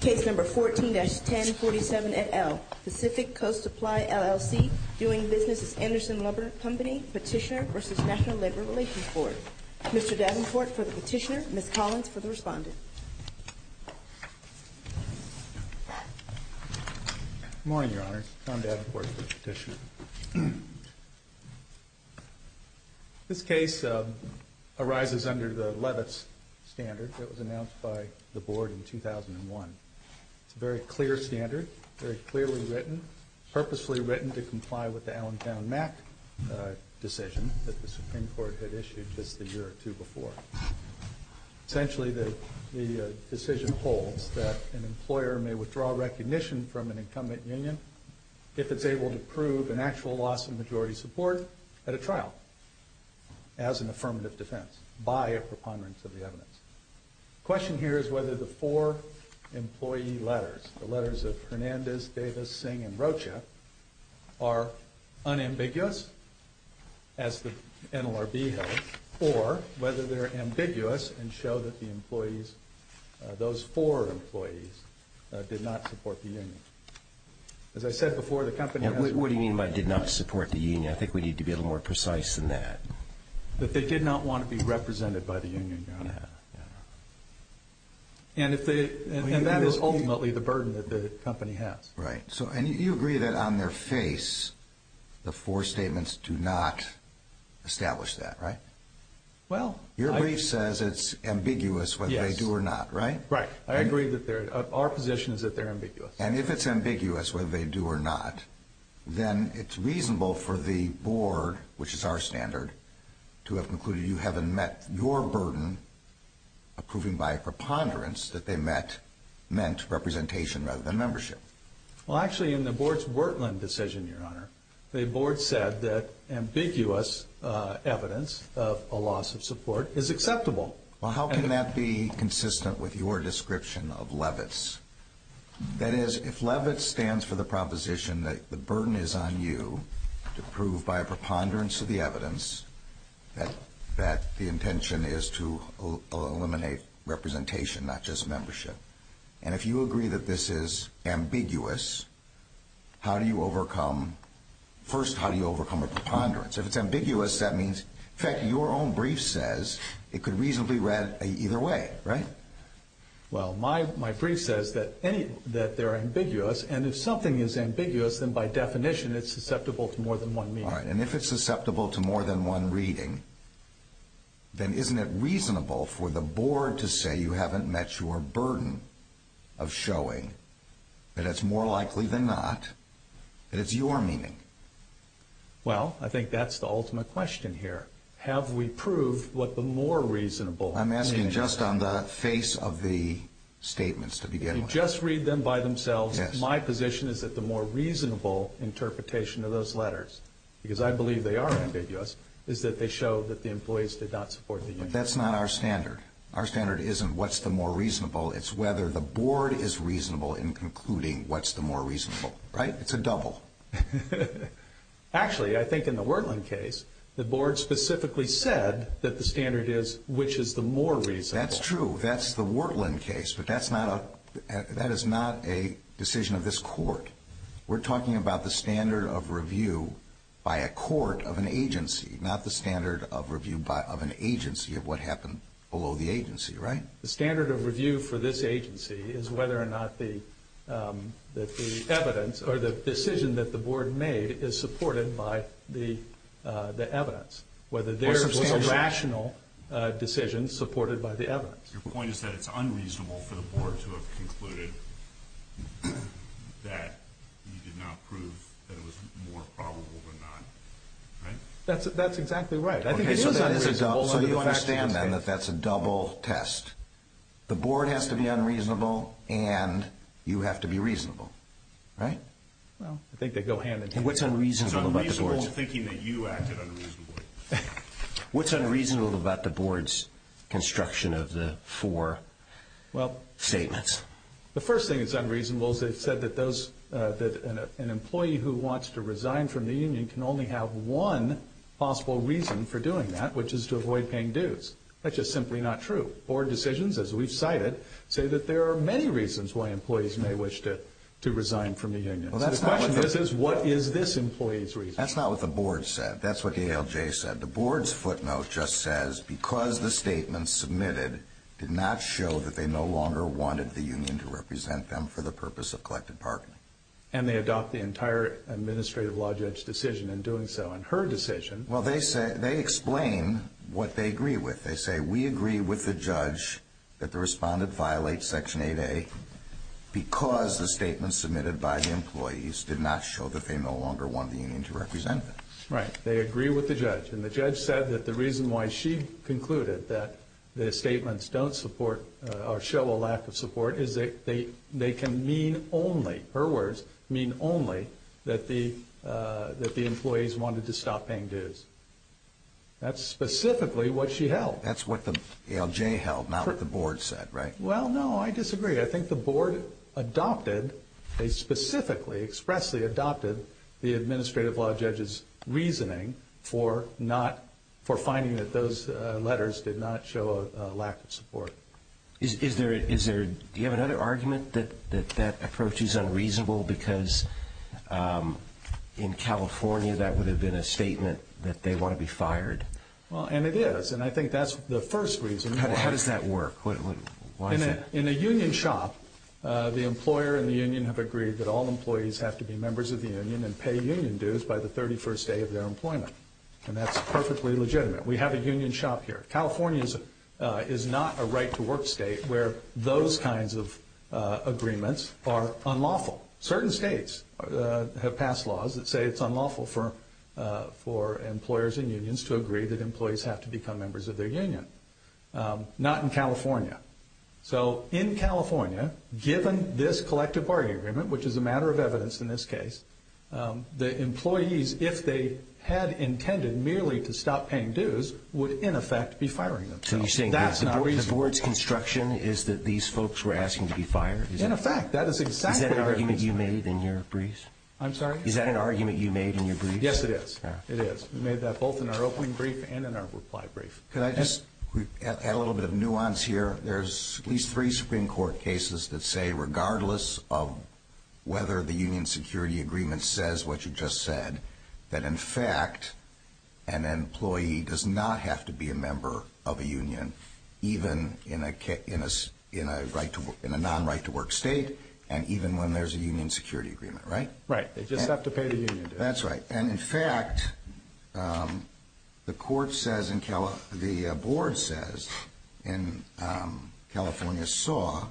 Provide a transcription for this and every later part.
Petitioner v. National Labor Relations Board. Mr. Davenport for the petitioner, Ms. Collins for the respondent. Good morning, Your Honor. Tom Davenport for the petitioner. This case arises under the Levitz standard that was announced by the Board in 2001. It's a very clear standard, very clearly written, purposely written to comply with the Allentown-Mack decision that the Supreme Court had issued just a year or two before. Essentially the decision holds that an employer may withdraw recognition from an incumbent union if it's able to prove an actual loss of majority support at a trial as an affirmative defense by a preponderance of the evidence. The question here is whether the four employee letters, the letters of show that the employees, those four employees did not support the union. As I said before, the company has... What do you mean by did not support the union? I think we need to be a little more precise than that. That they did not want to be represented by the union, Your Honor. And that is ultimately the burden that the company has. Right. And you agree that on their face, the four statements do not establish that, right? Well... Your brief says it's ambiguous whether they do or not, right? Right. I agree that our position is that they're ambiguous. And if it's ambiguous whether they do or not, then it's reasonable for the Board, which is our standard, to have concluded you haven't met your burden approving by a preponderance that they met meant representation rather than membership. Well, actually, in the Board's Wertland decision, Your Honor, the Board said that ambiguous evidence of a loss of support is acceptable. Well, how can that be consistent with your description of Levitt's? That is, if Levitt stands for the proposition that the burden is on you to prove by a preponderance of the evidence that the intention is to eliminate representation, not just membership. And if you agree that this is ambiguous, how do you overcome... First, how do you overcome a preponderance? If it's ambiguous, that means... In fact, your own brief says it could reasonably read either way, right? Well, my brief says that they're ambiguous, and if something is ambiguous, then by definition it's susceptible to more than one meaning. All right. And if it's susceptible to more than one reading, then isn't it reasonable for the Board to say you haven't met your burden of showing that it's more likely than not that it's your meaning? Well, I think that's the ultimate question here. Have we proved what the more reasonable meaning is? I'm asking just on the face of the statements to begin with. If you just read them by themselves, my position is that the more reasonable interpretation of those letters, because I believe they are ambiguous, is that they show that the employees did not support the union. But that's not our standard. Our standard isn't what's the more reasonable. It's whether the Board is reasonable in concluding what's the more reasonable. Right? It's a double. Actually, I think in the Wortland case, the Board specifically said that the standard is which is the more reasonable. That's true. That's the Wortland case, but that is not a decision of this court. We're talking about the standard of review by a court of an agency, not the standard of review of an agency of what happened below the agency. Right? The standard of review for this agency is whether or not the evidence or the decision that the Board made is supported by the evidence, whether there was a rational decision supported by the evidence. Your point is that it's unreasonable for the Board to have concluded that you did not prove that it was more probable than not. Right? That's exactly right. I think it is unreasonable. So you understand then that that's a double test. The Board has to be unreasonable and you have to be reasonable. Right? Well, I think they go hand in hand. What's unreasonable about the Board's... It's unreasonable thinking that you acted unreasonably. What's unreasonable about the Board's construction of the four statements? The first thing that's unreasonable is they've said that an employee who wants to resign from the union can only have one possible reason for doing that, which is to avoid paying dues. That's just simply not true. Board decisions, as we've cited, say that there are many reasons why employees may wish to resign from the union. So the question is, what is this employee's reason? That's not what the Board said. That's what the ALJ said. But the Board's footnote just says, because the statements submitted did not show that they no longer wanted the union to represent them for the purpose of collective bargaining. And they adopt the entire administrative law judge's decision in doing so. In her decision... Well, they explain what they agree with. They say, we agree with the judge that the respondent violates Section 8A because the statements submitted by the employees did not show that they no longer wanted the union to represent them. Right. They agree with the judge. And the judge said that the reason why she concluded that the statements don't show a lack of support is that they can mean only, her words, mean only that the employees wanted to stop paying dues. That's specifically what she held. That's what the ALJ held, not what the Board said, right? Well, no, I disagree. I think the Board adopted, they specifically, expressly adopted the administrative law judge's reasoning for finding that those letters did not show a lack of support. Do you have another argument that that approach is unreasonable because in California that would have been a statement that they want to be fired? Well, and it is. And I think that's the first reason. How does that work? In a union shop, the employer and the union have agreed that all employees have to be members of the union and pay union dues by the 31st day of their employment. And that's perfectly legitimate. We have a union shop here. California is not a right-to-work state where those kinds of agreements are unlawful. Certain states have passed laws that say it's unlawful for employers and unions to agree that employees have to become members of their union. Not in California. So in California, given this collective bargaining agreement, which is a matter of evidence in this case, the employees, if they had intended merely to stop paying dues, would, in effect, be firing themselves. So you're saying that the Board's construction is that these folks were asking to be fired? In effect, that is exactly what happened. Is that an argument you made in your briefs? I'm sorry? Is that an argument you made in your briefs? Yes, it is. It is. We made that both in our opening brief and in our reply brief. Could I just add a little bit of nuance here? There's at least three Supreme Court cases that say, regardless of whether the union security agreement says what you just said, that, in fact, an employee does not have to be a member of a union, even in a non-right-to-work state, and even when there's a union security agreement, right? Right. They just have to pay the union dues. That's right. And, in fact, the Court says, the Board says, in California SAW,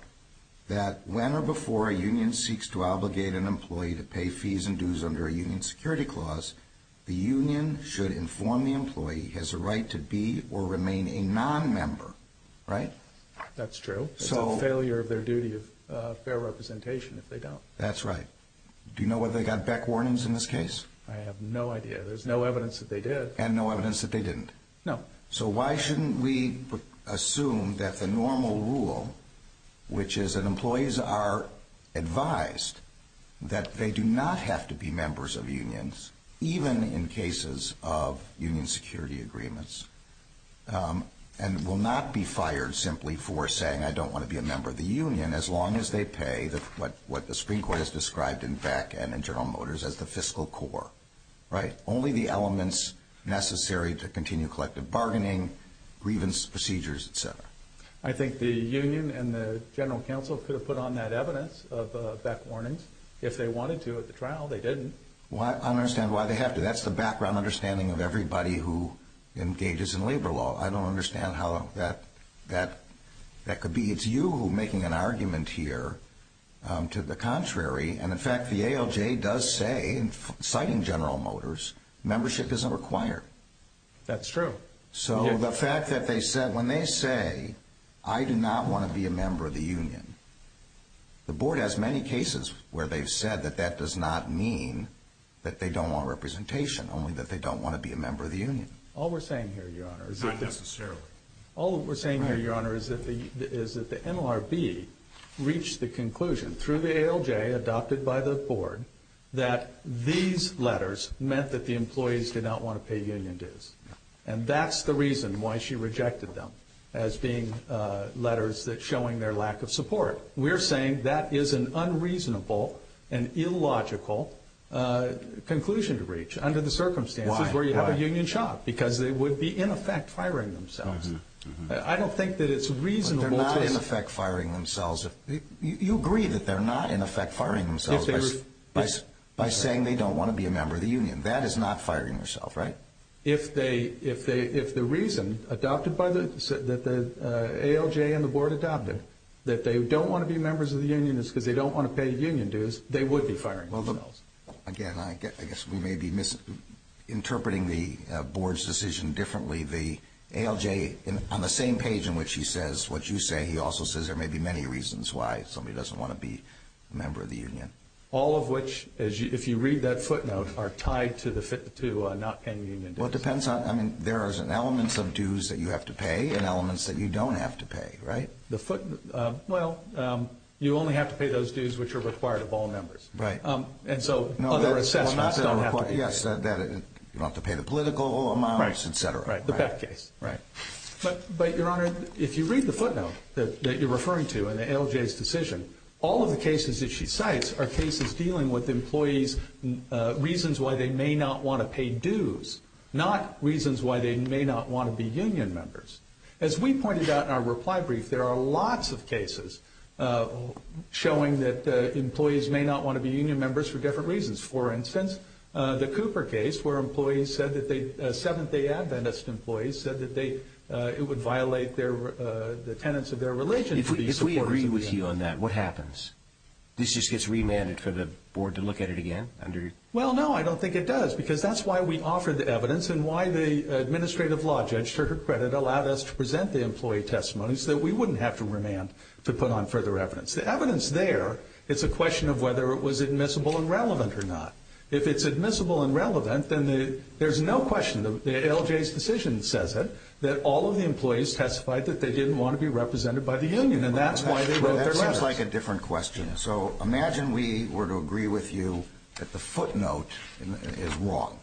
that when or before a union seeks to obligate an employee to pay fees and dues under a union security clause, the union should inform the employee he has a right to be or remain a non-member, right? That's true. It's a failure of their duty of fair representation if they don't. That's right. Do you know whether they got back warnings in this case? I have no idea. There's no evidence that they did. And no evidence that they didn't? No. So why shouldn't we assume that the normal rule, which is that employees are advised that they do not have to be members of unions, even in cases of union security agreements, and will not be fired simply for saying, I don't want to be a member of the union, as long as they pay what the Supreme Court has described in Beck and in General Motors as the fiscal core, right? Only the elements necessary to continue collective bargaining, grievance procedures, et cetera. I think the union and the general counsel could have put on that evidence of Beck warnings. If they wanted to at the trial, they didn't. I don't understand why they have to. That's the background understanding of everybody who engages in labor law. I don't understand how that could be. It's you making an argument here to the contrary. And, in fact, the ALJ does say, citing General Motors, membership isn't required. That's true. So the fact that they said, when they say, I do not want to be a member of the union, the board has many cases where they've said that that does not mean that they don't want representation, only that they don't want to be a member of the union. All we're saying here, Your Honor, is that the— Not necessarily. All we're saying here, Your Honor, is that the NLRB reached the conclusion through the ALJ adopted by the board that these letters meant that the employees did not want to pay union dues. And that's the reason why she rejected them as being letters showing their lack of support. We're saying that is an unreasonable and illogical conclusion to reach under the circumstances— Why? Because they would be, in effect, firing themselves. I don't think that it's reasonable to— But they're not, in effect, firing themselves. You agree that they're not, in effect, firing themselves by saying they don't want to be a member of the union. That is not firing yourself, right? If the reason adopted by the—that the ALJ and the board adopted, that they don't want to be members of the union is because they don't want to pay union dues, they would be firing themselves. Again, I guess we may be misinterpreting the board's decision differently. The ALJ, on the same page in which he says what you say, he also says there may be many reasons why somebody doesn't want to be a member of the union. All of which, if you read that footnote, are tied to not paying union dues. Well, it depends on—I mean, there are elements of dues that you have to pay and elements that you don't have to pay, right? The footnote—well, you only have to pay those dues which are required of all members. Right. And so other assessments don't have to be paid. Yes, you don't have to pay the political amounts, et cetera. Right, the pet case. Right. But, Your Honor, if you read the footnote that you're referring to in the ALJ's decision, all of the cases that she cites are cases dealing with employees' reasons why they may not want to pay dues, not reasons why they may not want to be union members. As we pointed out in our reply brief, there are lots of cases showing that employees may not want to be union members for different reasons. For instance, the Cooper case, where employees said that they— Seventh-day Adventist employees said that they—it would violate the tenets of their religion. If we agree with you on that, what happens? This just gets remanded for the board to look at it again? Well, no, I don't think it does because that's why we offer the evidence and why the administrative law judge, for her credit, allowed us to present the employee testimonies so that we wouldn't have to remand to put on further evidence. The evidence there, it's a question of whether it was admissible and relevant or not. If it's admissible and relevant, then there's no question, the ALJ's decision says it, that all of the employees testified that they didn't want to be represented by the union, and that's why they wrote their letters. Well, that seems like a different question. So imagine we were to agree with you that the footnote is wrong,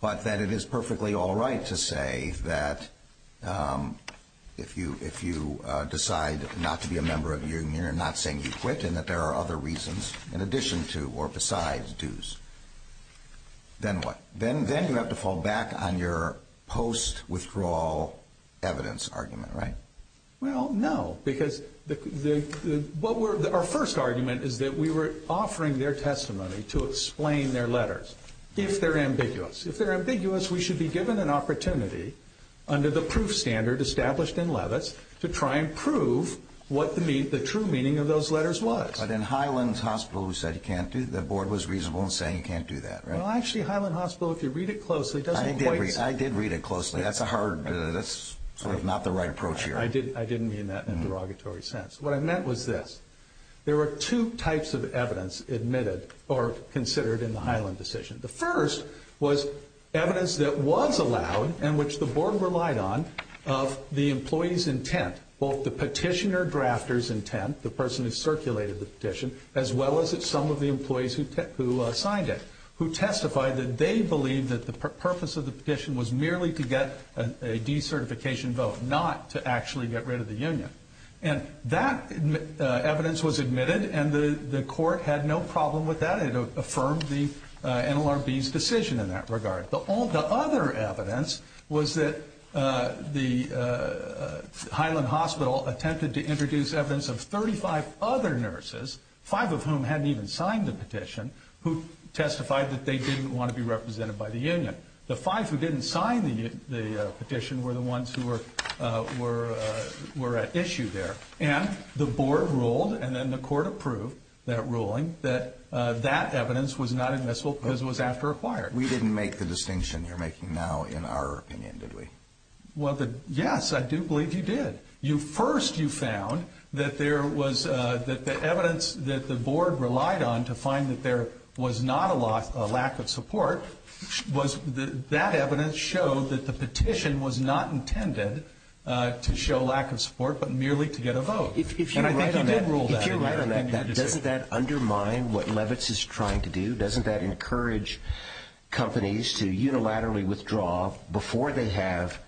but that it is perfectly all right to say that if you decide not to be a member of the union and not saying you quit and that there are other reasons in addition to or besides dues, then what? Then you have to fall back on your post-withdrawal evidence argument, right? Well, no, because our first argument is that we were offering their testimony to explain their letters, if they're ambiguous. If they're ambiguous, we should be given an opportunity under the proof standard established in Levis to try and prove what the true meaning of those letters was. But in Highland Hospital, we said the board was reasonable in saying you can't do that, right? Well, actually, Highland Hospital, if you read it closely, doesn't quite say. I didn't mean that in a derogatory sense. What I meant was this. There were two types of evidence admitted or considered in the Highland decision. The first was evidence that was allowed and which the board relied on of the employee's intent, both the petitioner-drafter's intent, the person who circulated the petition, as well as some of the employees who signed it, who testified that they believed that the purpose of the petition was merely to get a decertification vote, not to actually get rid of the union. And that evidence was admitted, and the court had no problem with that. It affirmed the NLRB's decision in that regard. The other evidence was that Highland Hospital attempted to introduce evidence of 35 other nurses, five of whom hadn't even signed the petition, who testified that they didn't want to be represented by the union. The five who didn't sign the petition were the ones who were at issue there. And the board ruled, and then the court approved that ruling, that that evidence was not admissible because it was after acquired. We didn't make the distinction you're making now in our opinion, did we? Well, yes, I do believe you did. First, you found that the evidence that the board relied on to find that there was not a lack of support, that evidence showed that the petition was not intended to show lack of support but merely to get a vote. And I think you did rule that in your decision. If you're right on that, doesn't that undermine what Levitz is trying to do? Doesn't that encourage companies to unilaterally withdraw before they have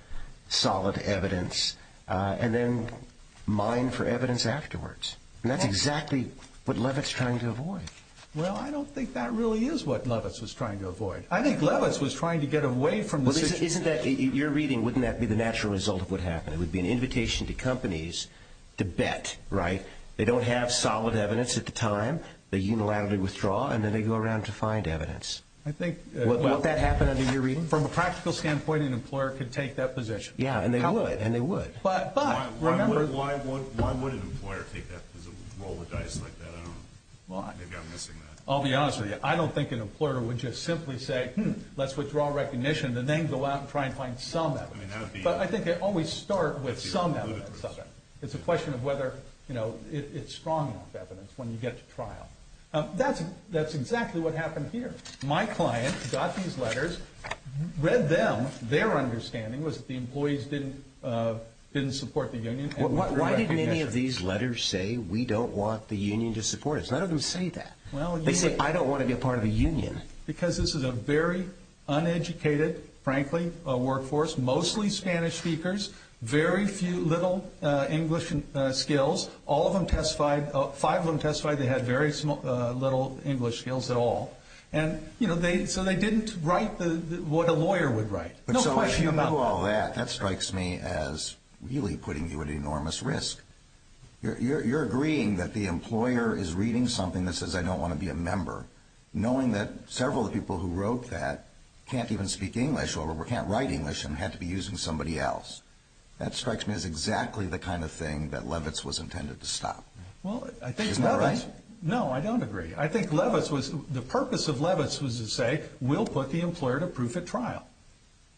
solid evidence and then mine for evidence afterwards? And that's exactly what Levitz is trying to avoid. Well, I don't think that really is what Levitz was trying to avoid. I think Levitz was trying to get away from the situation. Isn't that, in your reading, wouldn't that be the natural result of what happened? It would be an invitation to companies to bet, right? They don't have solid evidence at the time. They unilaterally withdraw, and then they go around to find evidence. Would that happen under your reading? From a practical standpoint, an employer could take that position. Yeah, and they would, and they would. Why would an employer take that position, roll the dice like that? I don't know. Maybe I'm missing that. I'll be honest with you. I don't think an employer would just simply say, let's withdraw recognition, and then go out and try and find some evidence. But I think they always start with some evidence. It's a question of whether it's strong enough evidence when you get to trial. That's exactly what happened here. My client got these letters, read them. Their understanding was that the employees didn't support the union. Why didn't any of these letters say, we don't want the union to support us? None of them say that. They say, I don't want to be a part of the union. Because this is a very uneducated, frankly, workforce, mostly Spanish speakers, very few little English skills. All of them testified, five of them testified they had very little English skills at all. And, you know, so they didn't write what a lawyer would write. No question about that. So if you knew all that, that strikes me as really putting you at enormous risk. You're agreeing that the employer is reading something that says, I don't want to be a member. Knowing that several of the people who wrote that can't even speak English or can't write English and had to be using somebody else. That strikes me as exactly the kind of thing that Levitz was intended to stop. Isn't that right? No, I don't agree. I think Levitz was, the purpose of Levitz was to say, we'll put the employer to proof at trial.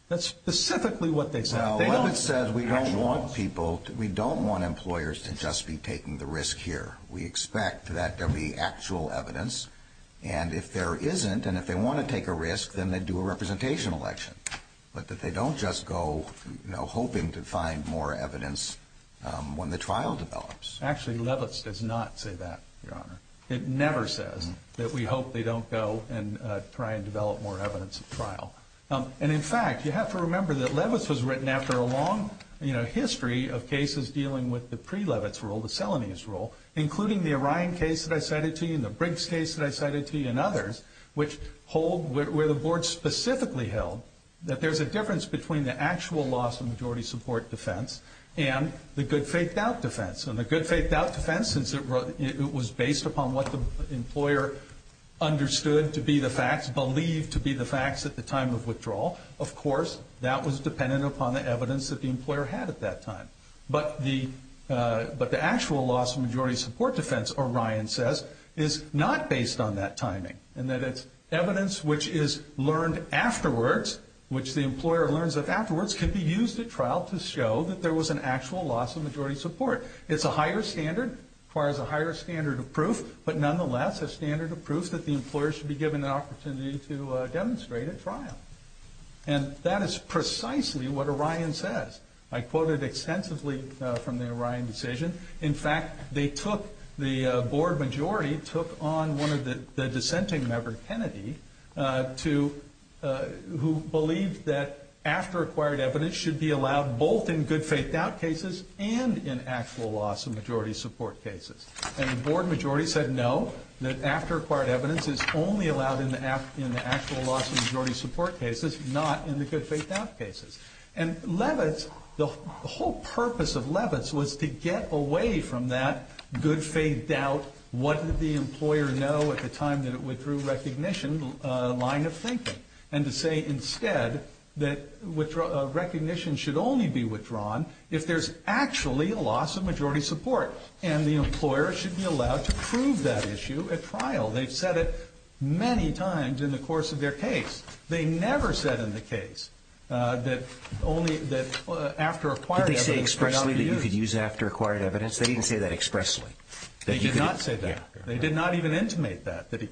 That's specifically what they said. Well, Levitz says we don't want people, we don't want employers to just be taking the risk here. We expect that there be actual evidence. And if there isn't, and if they want to take a risk, then they do a representation election. But that they don't just go, you know, hoping to find more evidence when the trial develops. Actually, Levitz does not say that, Your Honor. It never says that we hope they don't go and try and develop more evidence at trial. And, in fact, you have to remember that Levitz was written after a long history of cases dealing with the pre-Levitz rule, the Selenius rule, including the Orion case that I cited to you and the Briggs case that I cited to you and others, which hold where the board specifically held that there's a difference between the actual loss of majority support defense and the good faith doubt defense. And the good faith doubt defense, since it was based upon what the employer understood to be the facts, believed to be the facts at the time of withdrawal, of course, that was dependent upon the evidence that the employer had at that time. But the actual loss of majority support defense, Orion says, is not based on that timing, and that it's evidence which is learned afterwards, which the employer learns of afterwards, can be used at trial to show that there was an actual loss of majority support. It's a higher standard, requires a higher standard of proof, but, nonetheless, a standard of proof that the employer should be given an opportunity to demonstrate at trial. And that is precisely what Orion says. I quoted extensively from the Orion decision. In fact, the board majority took on one of the dissenting members, Kennedy, who believed that after acquired evidence should be allowed both in good faith doubt cases and in actual loss of majority support cases. And the board majority said no, that after acquired evidence is only allowed in the actual loss of majority support cases, not in the good faith doubt cases. And Levitz, the whole purpose of Levitz was to get away from that good faith doubt, what did the employer know at the time that it withdrew recognition, line of thinking, and to say instead that recognition should only be withdrawn if there's actually a loss of majority support. And the employer should be allowed to prove that issue at trial. They've said it many times in the course of their case. They never said in the case that after acquired evidence could not be used. Did they say expressly that you could use after acquired evidence? They didn't say that expressly. They did not say that. They did not even intimate that, that you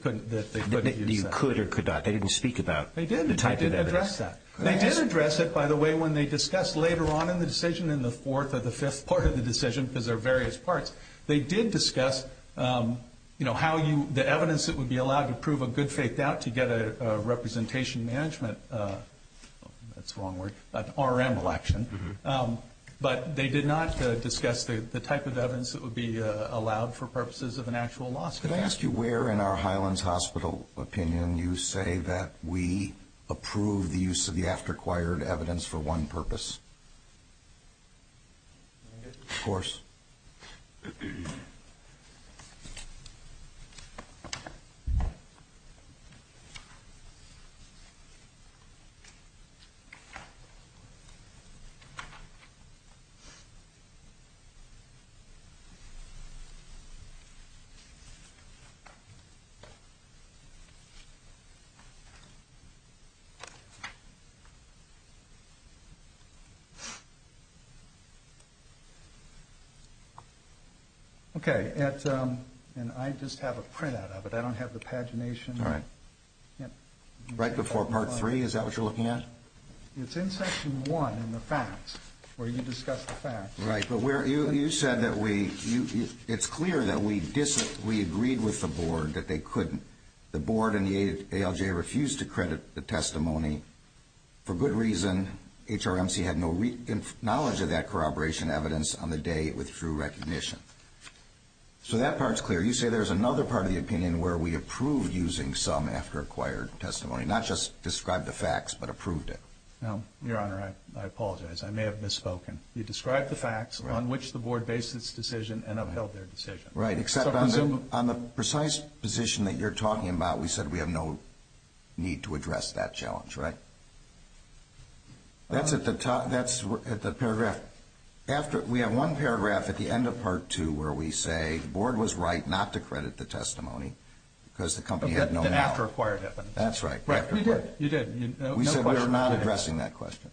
could or could not. They didn't speak about the type of evidence. They did address that. They did address it, by the way, when they discussed later on in the decision, in the fourth or the fifth part of the decision, because there are various parts, they did discuss, you know, how you, the evidence that would be allowed to prove a good faith doubt to get a representation management, that's the wrong word, an RM election. But they did not discuss the type of evidence that would be allowed for purposes of an actual loss. Can I ask you where in our Highlands Hospital opinion you say that we approve the use of the after acquired evidence for one purpose? Of course. Okay. And I just have a printout of it. I don't have the pagination. All right. Right before Part 3? Is that what you're looking at? It's in Section 1 in the facts, where you discuss the facts. Right. But you said that it's clear that we agreed with the board that they couldn't. The board and the ALJ refused to credit the testimony. For good reason, HRMC had no knowledge of that corroboration evidence on the day it withdrew recognition. So that part's clear. You say there's another part of the opinion where we approved using some after acquired testimony, not just described the facts, but approved it. Your Honor, I apologize. I may have misspoken. You described the facts on which the board based its decision and upheld their decision. Right, except on the precise position that you're talking about, we said we have no need to address that challenge, right? That's at the paragraph. We have one paragraph at the end of Part 2 where we say the board was right not to credit the testimony because the company had no knowledge. The after acquired evidence. That's right. You did. We said we were not addressing that question.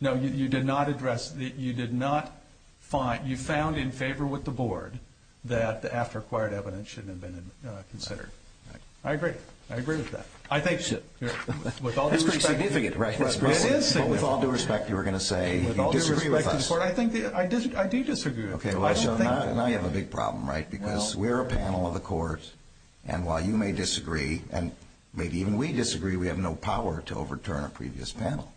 No, you did not address it. You found in favor with the board that the after acquired evidence shouldn't have been considered. I agree. I agree with that. That's pretty significant, right? It is significant. With all due respect, you were going to say you disagree with us. I do disagree with you. I have a big problem, right, because we're a panel of the court, and while you may disagree, and maybe even we disagree, we have no power to overturn a previous panel.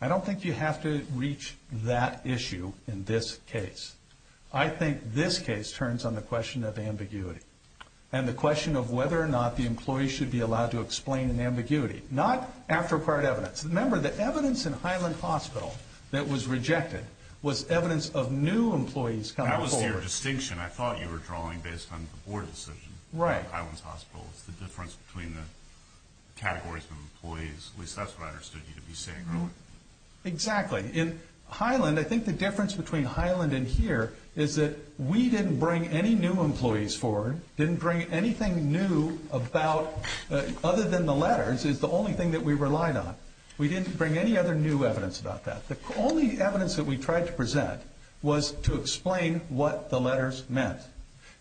I don't think you have to reach that issue in this case. I think this case turns on the question of ambiguity and the question of whether or not the employee should be allowed to explain an ambiguity, not after acquired evidence. Remember, the evidence in Highland Hospital that was rejected was evidence of new employees coming forward. That was your distinction. I thought you were drawing based on the board decision. Right. Highland Hospital. It's the difference between the categories of employees. At least that's what I understood you to be saying. Exactly. In Highland, I think the difference between Highland and here is that we didn't bring any new employees forward, didn't bring anything new about, other than the letters, is the only thing that we relied on. We didn't bring any other new evidence about that. The only evidence that we tried to present was to explain what the letters meant.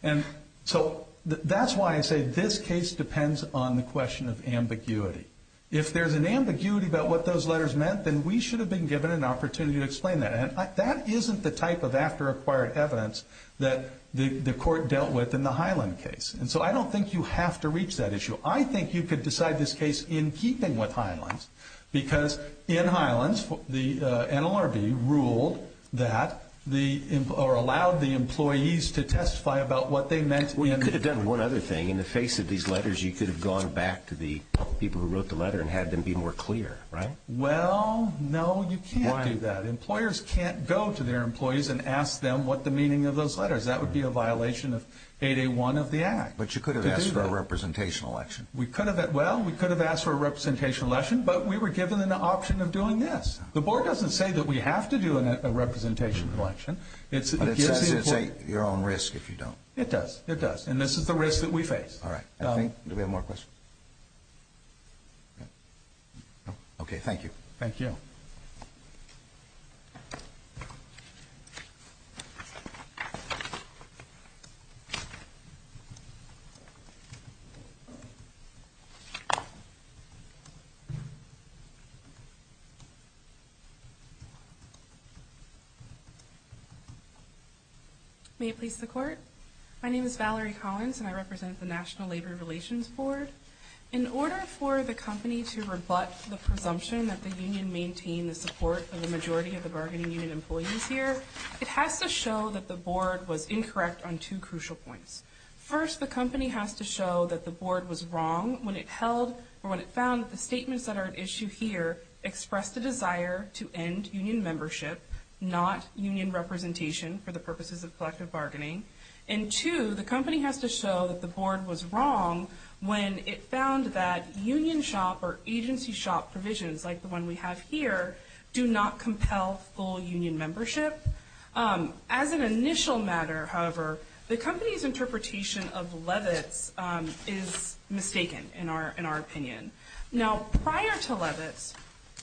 And so that's why I say this case depends on the question of ambiguity. If there's an ambiguity about what those letters meant, then we should have been given an opportunity to explain that. And that isn't the type of after-acquired evidence that the court dealt with in the Highland case. And so I don't think you have to reach that issue. I think you could decide this case in keeping with Highland because in Highland, the NLRB ruled that or allowed the employees to testify about what they meant. Well, you could have done one other thing. In the face of these letters, you could have gone back to the people who wrote the letter and had them be more clear, right? Well, no, you can't do that. Why? Employers can't go to their employees and ask them what the meaning of those letters. That would be a violation of 8A1 of the Act. But you could have asked for a representation election. We could have. Well, we could have asked for a representation election, but we were given an option of doing this. The board doesn't say that we have to do a representation election. But it says it's at your own risk if you don't. It does. It does. And this is the risk that we face. All right. Do we have more questions? Okay, thank you. Thank you. May it please the Court? My name is Valerie Collins, and I represent the National Labor Relations Board. In order for the company to rebut the presumption that the union maintained the support of the majority of the bargaining union employees here, it has to show that the board was incorrect on two crucial points. First, the company has to show that the board was wrong when it held or when it found the statements that are at issue here express the desire to end union membership, not union representation, for the purposes of collective bargaining. And two, the company has to show that the board was wrong when it found that union shop or agency shop provisions like the one we have here do not compel full union membership. As an initial matter, however, the company's interpretation of Levitz is mistaken, in our opinion. Now, prior to Levitz,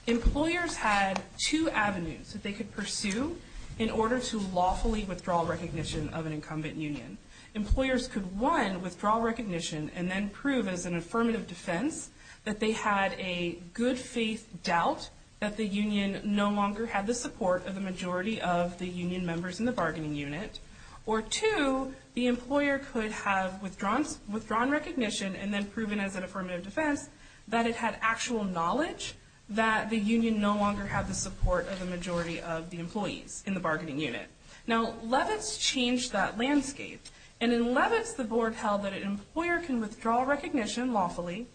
employers had two avenues that they could pursue in order to lawfully withdraw recognition of an incumbent union. Employers could, one, withdraw recognition and then prove as an affirmative defense that they had a good-faith doubt that the union no longer had the support of the majority of the union members in the bargaining unit. Or two, the employer could have withdrawn recognition and then proven as an affirmative defense that it had actual knowledge that the union no longer had the support of the majority of the employees in the bargaining unit. Now, Levitz changed that landscape. And in Levitz, the board held that an employer can withdraw recognition lawfully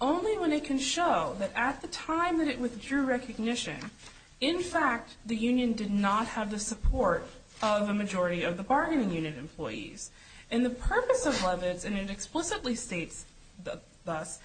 only when it can show that at the time that it withdrew recognition, in fact, the union did not have the support of a majority of the bargaining unit employees. And the purpose of Levitz, and it explicitly states thus,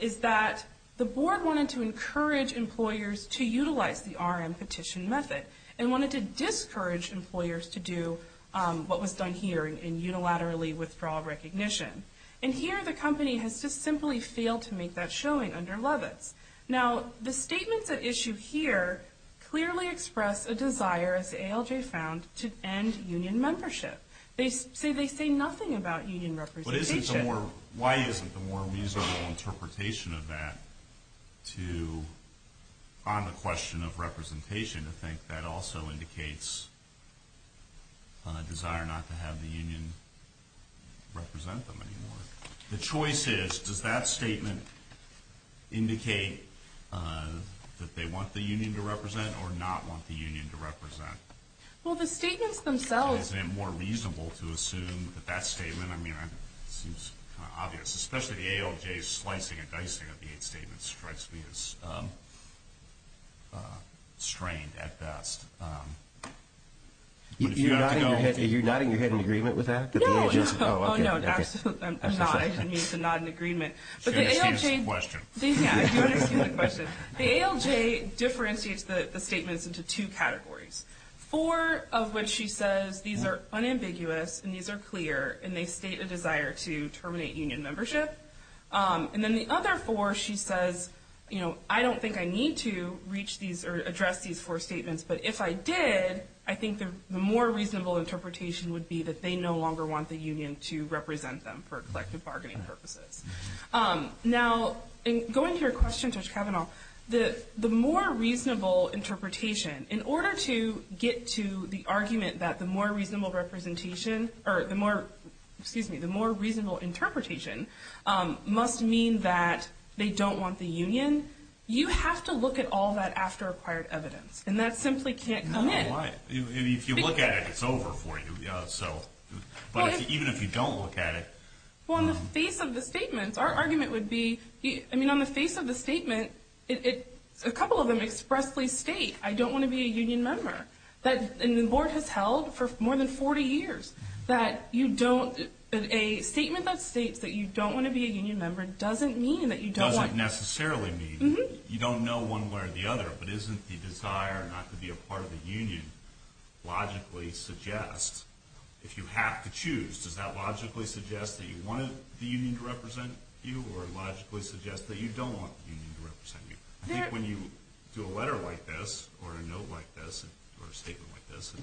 is that the board wanted to encourage employers to utilize the RM petition method and wanted to discourage employers to do what was done here in unilaterally withdrawal recognition. And here, the company has just simply failed to make that showing under Levitz. Now, the statements at issue here clearly express a desire, as ALJ found, to end union membership. They say nothing about union representation. Why isn't the more reasonable interpretation of that to, on the question of representation, to think that also indicates a desire not to have the union represent them anymore? The choice is, does that statement indicate that they want the union to represent or not want the union to represent? Well, the statements themselves. Isn't it more reasonable to assume that that statement, I mean, it seems kind of obvious, especially the ALJ's slicing and dicing of the eight statements strikes me as strained at best. Are you nodding your head in agreement with that? No. Oh, no. I'm not. It means a nod in agreement. Do you understand this question? Yeah. Do you understand the question? The ALJ differentiates the statements into two categories, four of which she says these are unambiguous and these are clear and they state a desire to terminate union membership. And then the other four she says, you know, I don't think I need to reach these or address these four statements, but if I did, I think the more reasonable interpretation would be that they no longer want the union to represent them for collective bargaining purposes. Now, going to your question, Judge Kavanaugh, the more reasonable interpretation, in order to get to the argument that the more reasonable representation or the more, excuse me, the more reasonable interpretation must mean that they don't want the union, you have to look at all that after-acquired evidence, and that simply can't come in. No, why? If you look at it, it's over for you. But even if you don't look at it. Well, on the face of the statements, our argument would be, I mean, on the face of the statement, a couple of them expressly state, I don't want to be a union member. And the board has held for more than 40 years that you don't, a statement that states that you don't want to be a union member doesn't mean that you don't want. It doesn't necessarily mean that you don't know one way or the other, but isn't the desire not to be a part of the union logically suggests, if you have to choose, does that logically suggest that you want the union to represent you or logically suggest that you don't want the union to represent you? I think when you do a letter like this or a note like this or a statement like this, it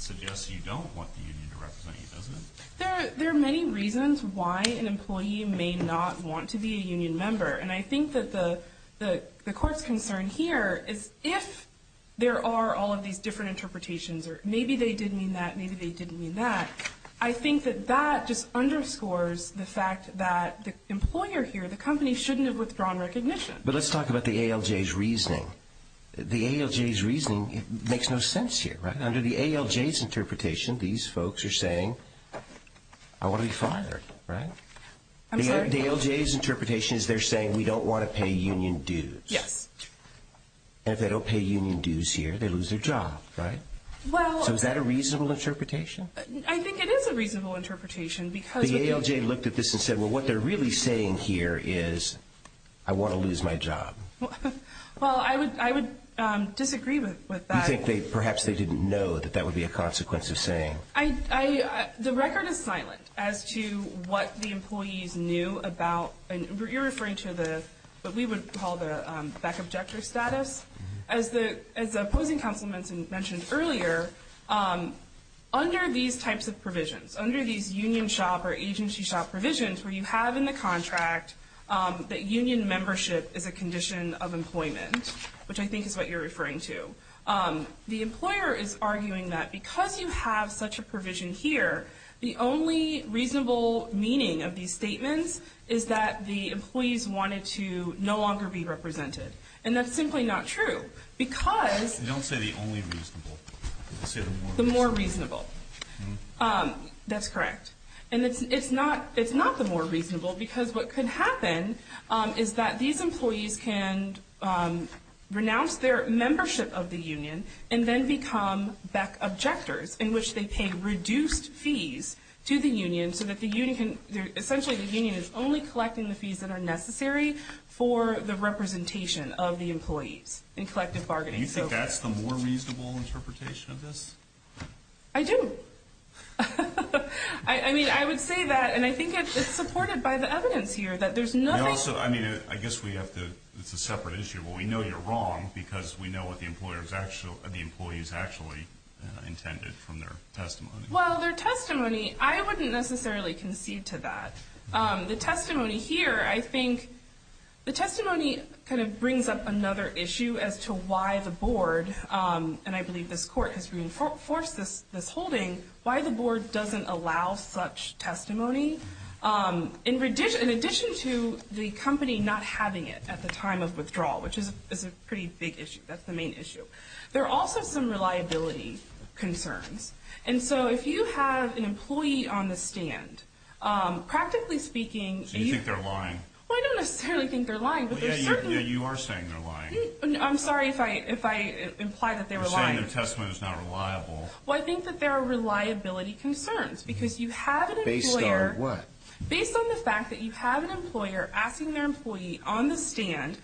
suggests you don't want the union to represent you, doesn't it? There are many reasons why an employee may not want to be a union member. And I think that the court's concern here is if there are all of these different interpretations or maybe they did mean that, maybe they didn't mean that, I think that that just underscores the fact that the employer here, the company, shouldn't have withdrawn recognition. But let's talk about the ALJ's reasoning. The ALJ's reasoning makes no sense here, right? Under the ALJ's interpretation, these folks are saying, I want to be fired, right? The ALJ's interpretation is they're saying, we don't want to pay union dues. Yes. And if they don't pay union dues here, they lose their job, right? So is that a reasonable interpretation? I think it is a reasonable interpretation. The ALJ looked at this and said, well, what they're really saying here is, I want to lose my job. Well, I would disagree with that. Do you think perhaps they didn't know that that would be a consequence of saying? The record is silent as to what the employees knew about, and you're referring to what we would call the back-objector status. As the opposing counsel mentioned earlier, under these types of provisions, under these union shop or agency shop provisions where you have in the contract that union membership is a condition of employment, which I think is what you're referring to, the employer is arguing that because you have such a provision here, the only reasonable meaning of these statements is that the employees wanted to no longer be represented. And that's simply not true because. You don't say the only reasonable. You say the more reasonable. The more reasonable. That's correct. And it's not the more reasonable because what could happen is that these employees can renounce their membership of the union and then become back-objectors in which they pay reduced fees to the union so that the union can, essentially the union is only collecting the fees that are necessary for the representation of the employees in collective bargaining. Do you think that's the more reasonable interpretation of this? I do. I mean, I would say that. And I think it's supported by the evidence here that there's nothing. I mean, I guess it's a separate issue. Well, we know you're wrong because we know what the employees actually intended from their testimony. Well, their testimony, I wouldn't necessarily concede to that. The testimony here, I think the testimony kind of brings up another issue as to why the board, and I believe this court has reinforced this holding, why the board doesn't allow such testimony, in addition to the company not having it at the time of withdrawal, which is a pretty big issue. That's the main issue. There are also some reliability concerns. And so if you have an employee on the stand, practically speaking. So you think they're lying? Well, I don't necessarily think they're lying. Yeah, you are saying they're lying. I'm sorry if I imply that they're lying. You're saying their testimony is not reliable. Well, I think that there are reliability concerns because you have an employer. Based on what? Based on the fact that you have an employer asking their employee on the stand,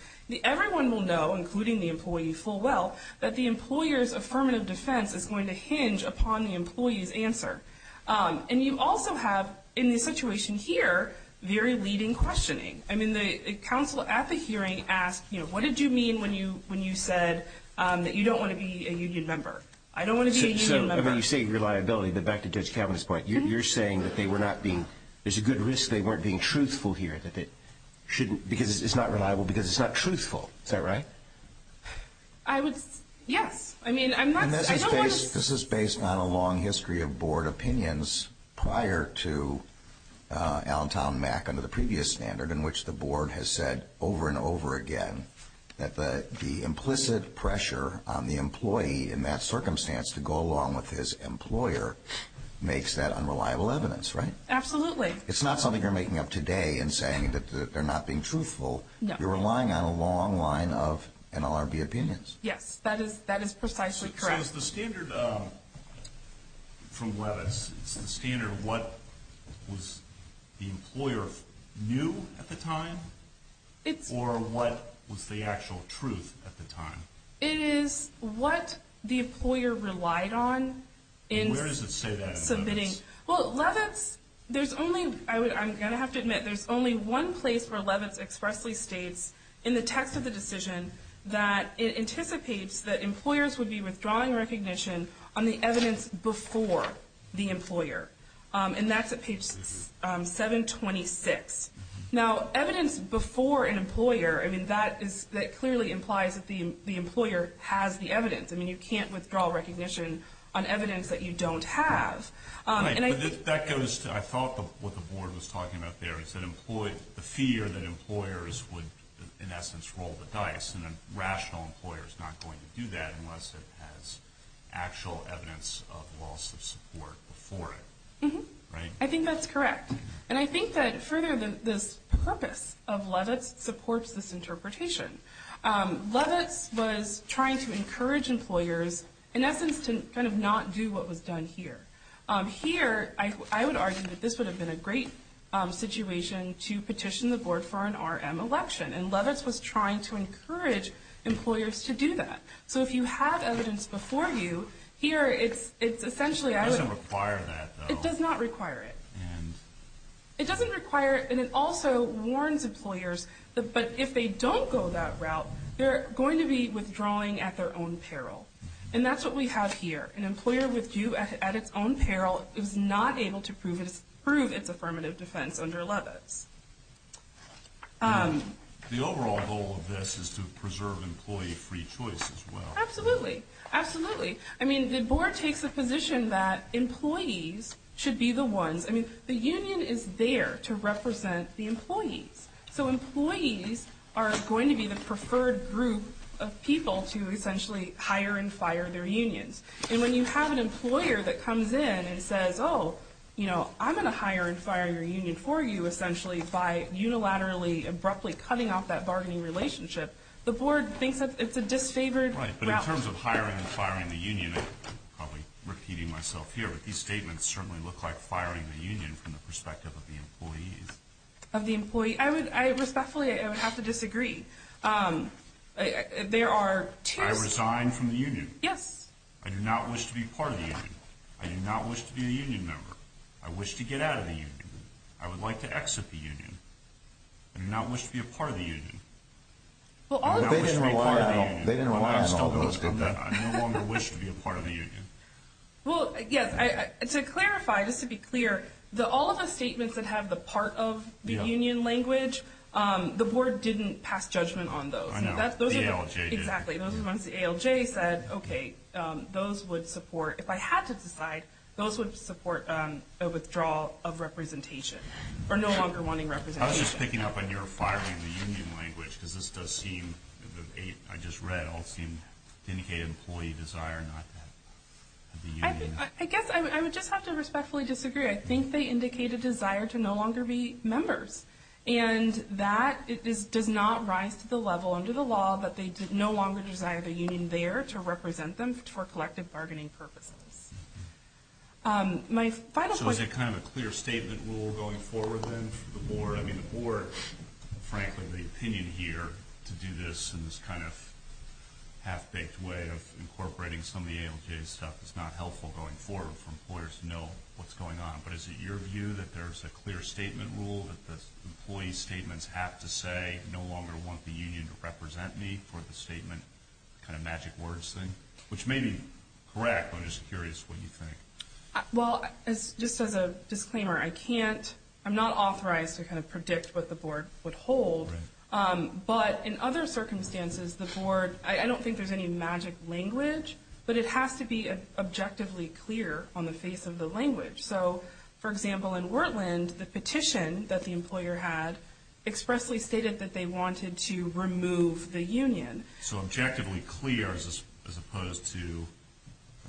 everyone will know, including the employee full well, that the employer's affirmative defense is going to hinge upon the employee's answer. And you also have, in this situation here, very leading questioning. I mean, the counsel at the hearing asked, you know, what did you mean when you said that you don't want to be a union member? I don't want to be a union member. So when you say reliability, back to Judge Kavanaugh's point, you're saying that there's a good risk they weren't being truthful here, because it's not reliable because it's not truthful. Is that right? Yes. This is based on a long history of board opinions prior to Allentown MAC under the previous standard in which the board has said over and over again that the implicit pressure on the employee in that circumstance to go along with his employer makes that unreliable evidence, right? Absolutely. It's not something you're making up today and saying that they're not being truthful. No. You're relying on a long line of NLRB opinions. Yes. That is precisely correct. So is the standard from Levitz, is the standard what was the employer knew at the time, or what was the actual truth at the time? It is what the employer relied on in submitting. Where does it say that in Levitz? Well, Levitz, there's only, I'm going to have to admit, there's only one place where Levitz expressly states in the text of the decision that it anticipates that employers would be withdrawing recognition on the evidence before the employer, and that's at page 726. Now, evidence before an employer, I mean, that clearly implies that the employer has the evidence. I mean, you can't withdraw recognition on evidence that you don't have. Right, but that goes to, I thought what the board was talking about there, the fear that employers would, in essence, roll the dice, and a rational employer is not going to do that unless it has actual evidence of loss of support before it. I think that's correct. And I think that further this purpose of Levitz supports this interpretation. Levitz was trying to encourage employers, in essence, to kind of not do what was done here. Here, I would argue that this would have been a great situation to petition the board for an RM election, and Levitz was trying to encourage employers to do that. So if you have evidence before you, here it's essentially I would. It doesn't require that, though. It does not require it. And? It doesn't require it, and it also warns employers that if they don't go that route, they're going to be withdrawing at their own peril, and that's what we have here. An employer withdrew at its own peril is not able to prove its affirmative defense under Levitz. The overall goal of this is to preserve employee free choice as well. Absolutely. Absolutely. I mean, the board takes the position that employees should be the ones. I mean, the union is there to represent the employees, so employees are going to be the preferred group of people to essentially hire and fire their unions. And when you have an employer that comes in and says, oh, you know, I'm going to hire and fire your union for you essentially by unilaterally, abruptly cutting off that bargaining relationship, the board thinks it's a disfavored route. Right, but in terms of hiring and firing the union, I'm probably repeating myself here, but these statements certainly look like firing the union from the perspective of the employees. Of the employee. I respectfully would have to disagree. There are two. I resign from the union. Yes. I do not wish to be part of the union. I do not wish to be a union member. I wish to get out of the union. I would like to exit the union. I do not wish to be a part of the union. They didn't rely on all those, did they? I no longer wish to be a part of the union. Well, yes, to clarify, just to be clear, all of the statements that have the part of the union language, the board didn't pass judgment on those. The ALJ did. Exactly. Those are the ones the ALJ said, okay, those would support, if I had to decide, those would support a withdrawal of representation or no longer wanting representation. I was just picking up on your firing the union language because this does seem, I just read, all seem to indicate an employee desire not to have the union. I guess I would just have to respectfully disagree. I think they indicate a desire to no longer be members, and that does not rise to the level under the law that they no longer desire the union there to represent them for collective bargaining purposes. So is it kind of a clear statement rule going forward then for the board? I mean, the board, frankly, the opinion here to do this in this kind of half-baked way of incorporating some of the ALJ stuff is not helpful going forward for employers to know what's going on. But is it your view that there's a clear statement rule that the employee statements have to say, no longer want the union to represent me for the statement kind of magic words thing? Which may be correct, but I'm just curious what you think. Well, just as a disclaimer, I can't, I'm not authorized to kind of predict what the board would hold. But in other circumstances, the board, I don't think there's any magic language, but it has to be objectively clear on the face of the language. So, for example, in Wortland, the petition that the employer had expressly stated that they wanted to remove the union. So objectively clear as opposed to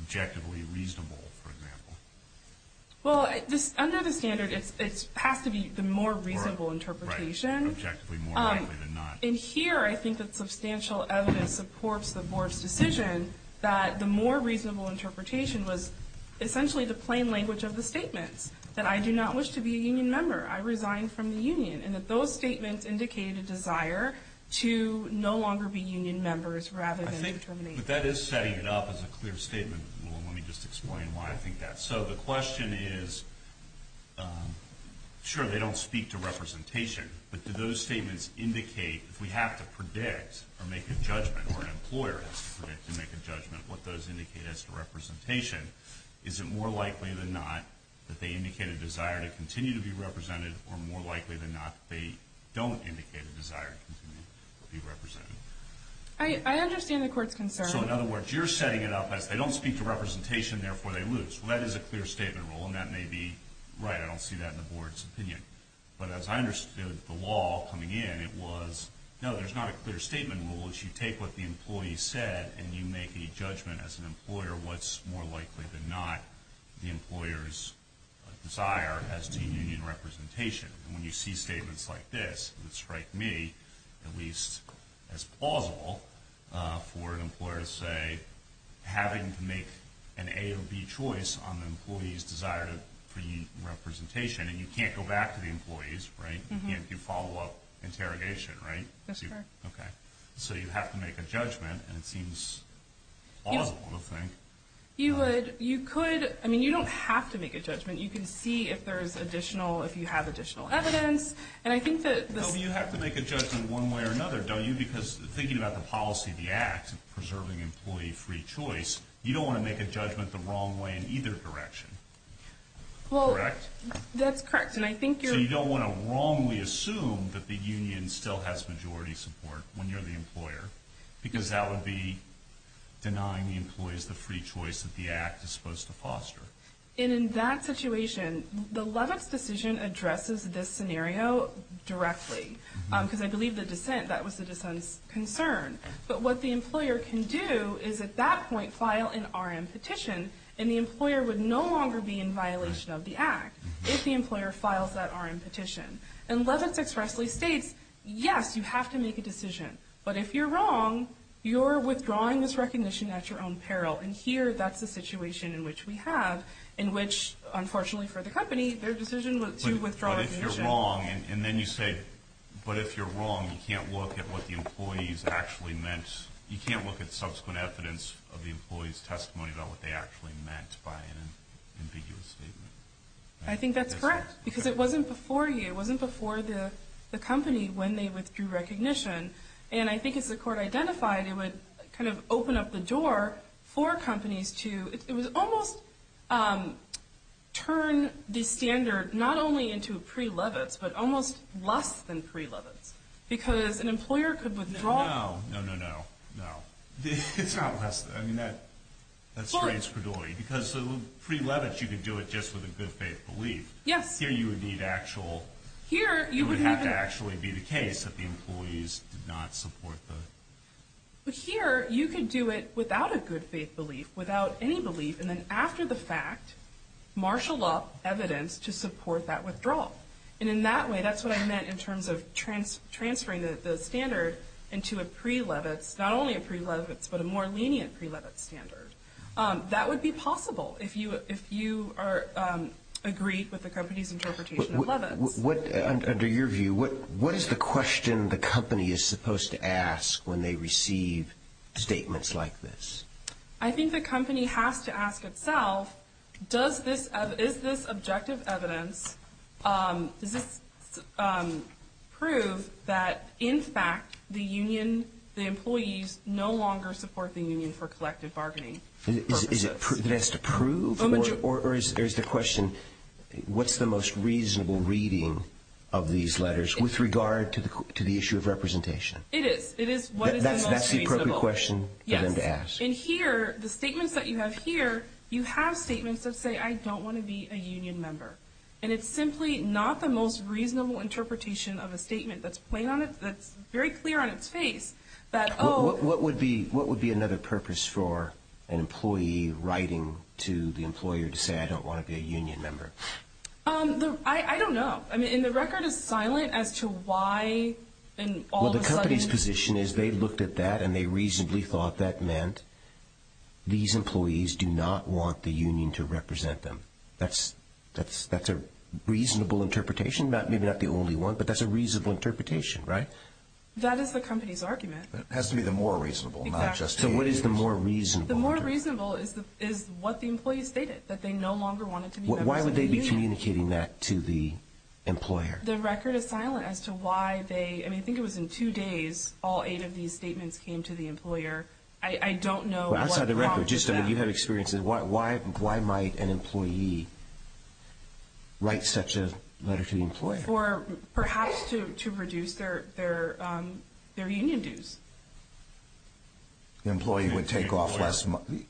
objectively reasonable, for example. Well, under the standard, it has to be the more reasonable interpretation. Right, objectively more likely than not. And here, I think that substantial evidence supports the board's decision that the more reasonable interpretation was essentially the plain language of the statements. That I do not wish to be a union member. I resign from the union. And that those statements indicated a desire to no longer be union members rather than determination. But that is setting it up as a clear statement. Let me just explain why I think that. So the question is, sure, they don't speak to representation. to make a judgment. What those indicate as to representation. Is it more likely than not that they indicate a desire to continue to be represented or more likely than not they don't indicate a desire to continue to be represented? I understand the court's concern. So, in other words, you're setting it up as they don't speak to representation, therefore they lose. Well, that is a clear statement rule, and that may be right. I don't see that in the board's opinion. But as I understood the law coming in, it was, no, there's not a clear statement rule. If you take what the employee said and you make a judgment as an employer, what's more likely than not the employer's desire as to union representation? And when you see statements like this, it would strike me at least as plausible for an employer to say, having to make an A or B choice on the employee's desire for union representation. And you can't go back to the employees, right? You can't do follow-up interrogation, right? That's correct. Okay. So you have to make a judgment, and it seems plausible, I think. You would. You could. I mean, you don't have to make a judgment. You can see if there's additional, if you have additional evidence. And I think that this- No, but you have to make a judgment one way or another, don't you? Because thinking about the policy, the act of preserving employee free choice, you don't want to make a judgment the wrong way in either direction. Correct? Well, that's correct, and I think you're- when you're the employer, because that would be denying the employees the free choice that the act is supposed to foster. And in that situation, the Levitz decision addresses this scenario directly, because I believe the dissent, that was the dissent's concern. But what the employer can do is at that point file an R.M. petition, and the employer would no longer be in violation of the act if the employer files that R.M. petition. And Levitz expressly states, yes, you have to make a decision. But if you're wrong, you're withdrawing this recognition at your own peril. And here, that's the situation in which we have, in which, unfortunately for the company, their decision to withdraw recognition- But if you're wrong, and then you say, but if you're wrong, you can't look at what the employees actually meant. You can't look at subsequent evidence of the employees' testimony about what they actually meant by an ambiguous statement. I think that's correct, because it wasn't before you. It wasn't before the company when they withdrew recognition. And I think as the court identified, it would kind of open up the door for companies to, it would almost turn the standard not only into pre-Levitz, but almost less than pre-Levitz. Because an employer could withdraw- No, no, no, no, no. It's not less than. I mean, that straights credulity. Because pre-Levitz, you could do it just with a good faith belief. Yes. But here, you would need actual- Here, you would need- It would have to actually be the case that the employees did not support the- But here, you could do it without a good faith belief, without any belief, and then after the fact, marshal up evidence to support that withdrawal. And in that way, that's what I meant in terms of transferring the standard into a pre-Levitz, not only a pre-Levitz, but a more lenient pre-Levitz standard. That would be possible if you agreed with the company's interpretation of Levitz. Under your view, what is the question the company is supposed to ask when they receive statements like this? I think the company has to ask itself, is this objective evidence, does this prove that, in fact, the union, the employees, no longer support the union for collective bargaining purposes? It has to prove or is the question, what's the most reasonable reading of these letters with regard to the issue of representation? It is. It is what is the most reasonable. That's the appropriate question for them to ask. Yes. And here, the statements that you have here, you have statements that say, I don't want to be a union member. And it's simply not the most reasonable interpretation of a statement that's plain on it, that's very clear on its face. What would be another purpose for an employee writing to the employer to say, I don't want to be a union member? I don't know. And the record is silent as to why. Well, the company's position is they looked at that and they reasonably thought that meant these employees do not want the union to represent them. That's a reasonable interpretation, maybe not the only one, but that's a reasonable interpretation, right? That is the company's argument. It has to be the more reasonable, not just the unions. So what is the more reasonable? The more reasonable is what the employees stated, that they no longer wanted to be members of the union. Why would they be communicating that to the employer? The record is silent as to why they, I mean, I think it was in two days, all eight of these statements came to the employer. I don't know what's wrong with that. Just so you have experience, why might an employee write such a letter to the employer? Perhaps to reduce their union dues. The employer would take off less money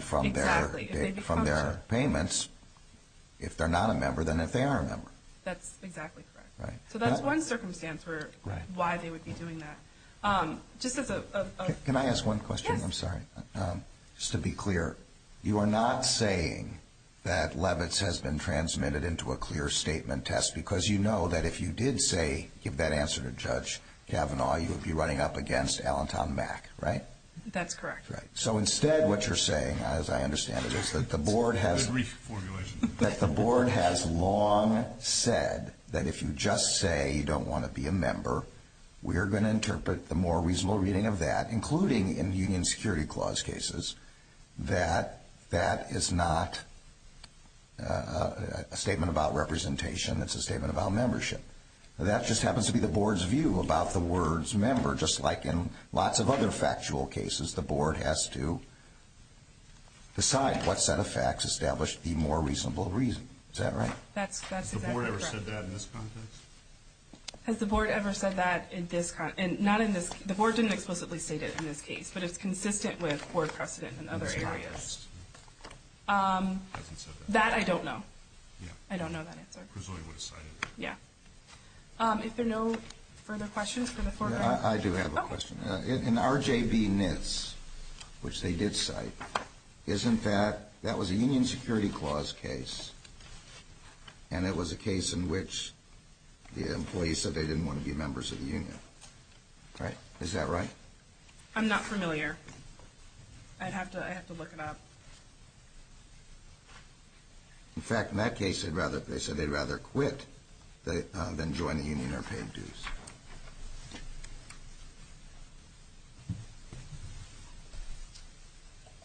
from their payments if they're not a member than if they are a member. That's exactly correct. So that's one circumstance for why they would be doing that. Can I ask one question? Yes. I'm sorry. Just to be clear, you are not saying that Levitz has been transmitted into a clear statement test because you know that if you did say, give that answer to Judge Kavanaugh, you would be running up against Allentown Mac, right? That's correct. So instead what you're saying, as I understand it, is that the board has long said that if you just say you don't want to be a member, we are going to interpret the more reasonable reading of that, including in union security clause cases, that that is not a statement about representation. It's a statement about membership. That just happens to be the board's view about the words member, just like in lots of other factual cases, the board has to decide what set of facts establish the more reasonable reason. Is that right? That's exactly correct. Has the board ever said that in this context? Has the board ever said that in this context? Not in this case. The board didn't explicitly state it in this case, but it's consistent with board precedent in other areas. That I don't know. I don't know that answer. Yeah. If there are no further questions. I do have a question. In RJB NIS, which they did cite, isn't that, that was a union security clause case, and it was a case in which the employees said they didn't want to be members of the union. Right? Is that right? I'm not familiar. I'd have to look it up. In fact, in that case, they said they'd rather quit than join the union or pay dues.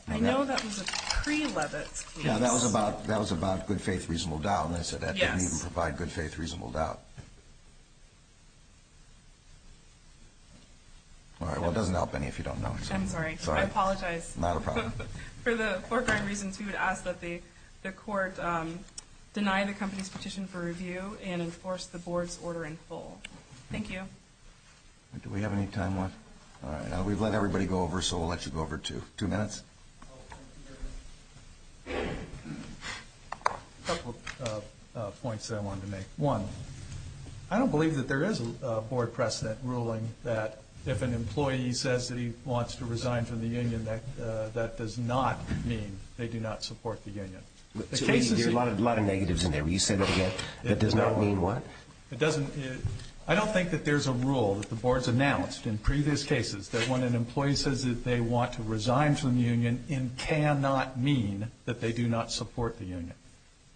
I know that was a pre-Levitz case. Yeah, that was about good faith, reasonable doubt, and they said that didn't even provide good faith, reasonable doubt. All right. Well, it doesn't help any if you don't know. I'm sorry. I apologize. Not a problem. For the foregoing reasons, we would ask that the court deny the company's petition for review and enforce the board's order in full. Thank you. Do we have any time left? All right. We've let everybody go over, so we'll let you go over, too. Two minutes. A couple of points that I wanted to make. One, I don't believe that there is a board precedent ruling that if an employee says that he wants to resign from the union, that that does not mean they do not support the union. There are a lot of negatives in there. Will you say that again? That does not mean what? I don't think that there's a rule that the board's announced in previous cases that when an employee says that they want to resign from the union, it cannot mean that they do not support the union.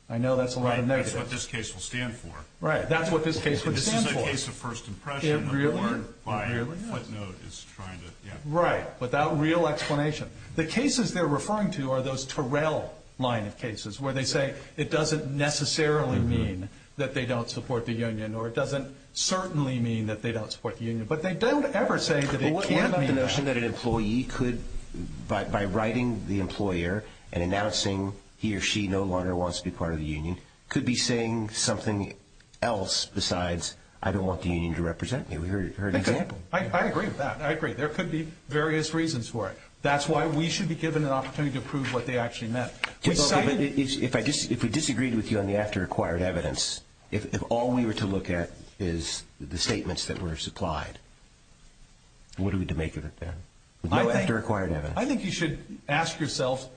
I know that's a lot of negatives. Right. That's what this case will stand for. Right. That's what this case will stand for. This is a case of first impression. Really? Really, yeah. The board, by footnote, is trying to, yeah. Right. Without real explanation. The cases they're referring to are those Terrell line of cases where they say it doesn't necessarily mean that they don't support the union, or it doesn't certainly mean that they don't support the union, but they don't ever say that it can't mean that. But what about the notion that an employee could, by writing the employer and announcing he or she no longer wants to be part of the union, could be saying something else besides, I don't want the union to represent me. We heard an example. I agree with that. I agree. There could be various reasons for it. That's why we should be given an opportunity to prove what they actually meant. But if we disagreed with you on the after acquired evidence, if all we were to look at is the statements that were supplied, what are we to make of it then? No after acquired evidence. I think you should ask yourself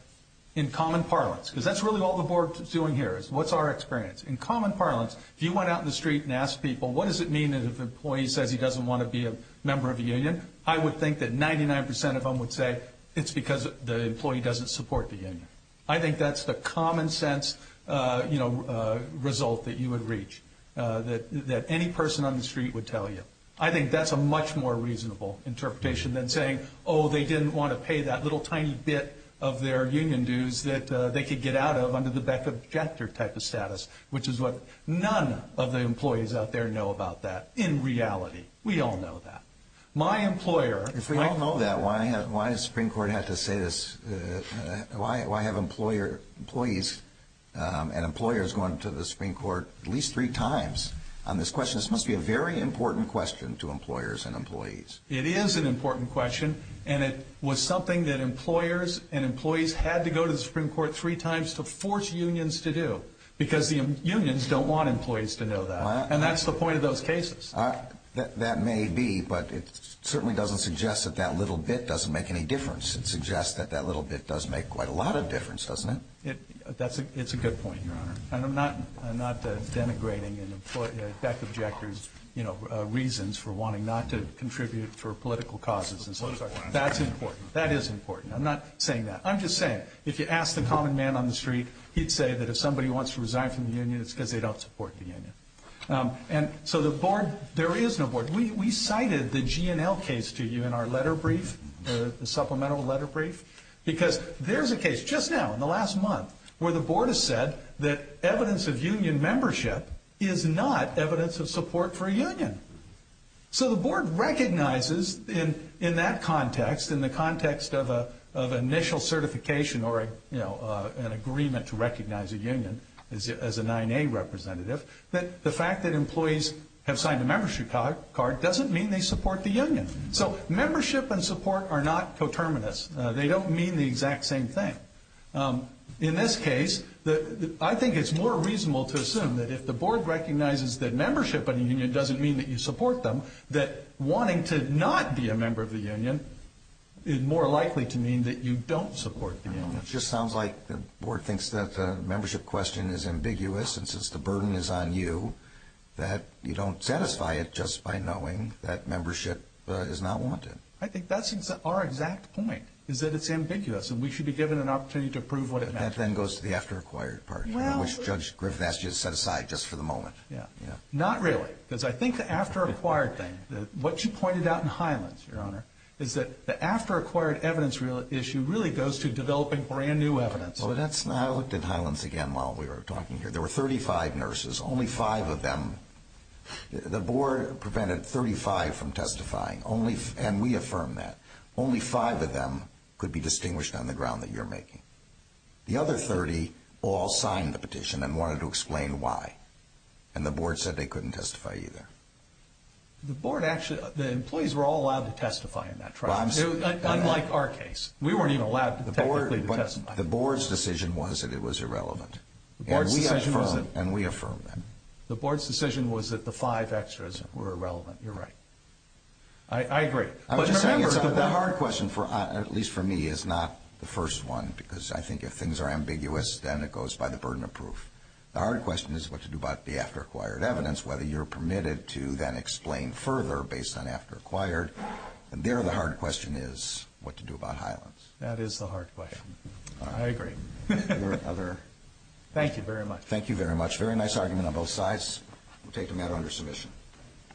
in common parlance, because that's really all the board is doing here, is what's our experience? In common parlance, if you went out in the street and asked people, what does it mean if an employee says he doesn't want to be a member of the union, I would think that 99 percent of them would say it's because the employee doesn't support the union. I think that's the common sense, you know, result that you would reach. That any person on the street would tell you. I think that's a much more reasonable interpretation than saying, oh, they didn't want to pay that little tiny bit of their union dues that they could get out of under the Beck objective type of status, which is what none of the employees out there know about that in reality. We all know that. If we don't know that, why does the Supreme Court have to say this? Why have employees and employers going to the Supreme Court at least three times on this question? This must be a very important question to employers and employees. It is an important question, and it was something that employers and employees had to go to the Supreme Court three times to force unions to do, because the unions don't want employees to know that. And that's the point of those cases. That may be, but it certainly doesn't suggest that that little bit doesn't make any difference. It suggests that that little bit does make quite a lot of difference, doesn't it? It's a good point, Your Honor. And I'm not denigrating Beck objectors' reasons for wanting not to contribute for political causes and so forth. That's important. That is important. I'm not saying that. I'm just saying, if you ask the common man on the street, he'd say that if somebody wants to resign from the union, it's because they don't support the union. And so the board, there is no board. We cited the GNL case to you in our letter brief, the supplemental letter brief, because there's a case just now in the last month where the board has said that evidence of union membership is not evidence of support for a union. So the board recognizes in that context, in the context of initial certification or, you know, an agreement to recognize a union, the fact that employees have signed a membership card doesn't mean they support the union. So membership and support are not coterminous. They don't mean the exact same thing. In this case, I think it's more reasonable to assume that if the board recognizes that membership in a union doesn't mean that you support them, that wanting to not be a member of the union is more likely to mean that you don't support the union. It just sounds like the board thinks that the membership question is ambiguous, and since the burden is on you, that you don't satisfy it just by knowing that membership is not wanted. I think that's our exact point, is that it's ambiguous, and we should be given an opportunity to prove what it meant. That then goes to the after-acquired part, which Judge Griffin asked you to set aside just for the moment. Not really, because I think the after-acquired thing, what you pointed out in Highlands, Your Honor, is that the after-acquired evidence issue really goes to developing brand-new evidence. Well, I looked at Highlands again while we were talking here. There were 35 nurses. Only five of them, the board prevented 35 from testifying, and we affirmed that. Only five of them could be distinguished on the ground that you're making. The other 30 all signed the petition and wanted to explain why, and the board said they couldn't testify either. The board actually, the employees were all allowed to testify in that trial. Unlike our case. We weren't even allowed technically to testify. The board's decision was that it was irrelevant, and we affirmed that. The board's decision was that the five extras were irrelevant. You're right. I agree. I'm just saying the hard question, at least for me, is not the first one, because I think if things are ambiguous, then it goes by the burden of proof. The hard question is what to do about the after-acquired evidence, whether you're permitted to then explain further based on after-acquired. And there the hard question is what to do about Highlands. That is the hard question. I agree. Thank you very much. Thank you very much. Very nice argument on both sides. We'll take the matter under submission.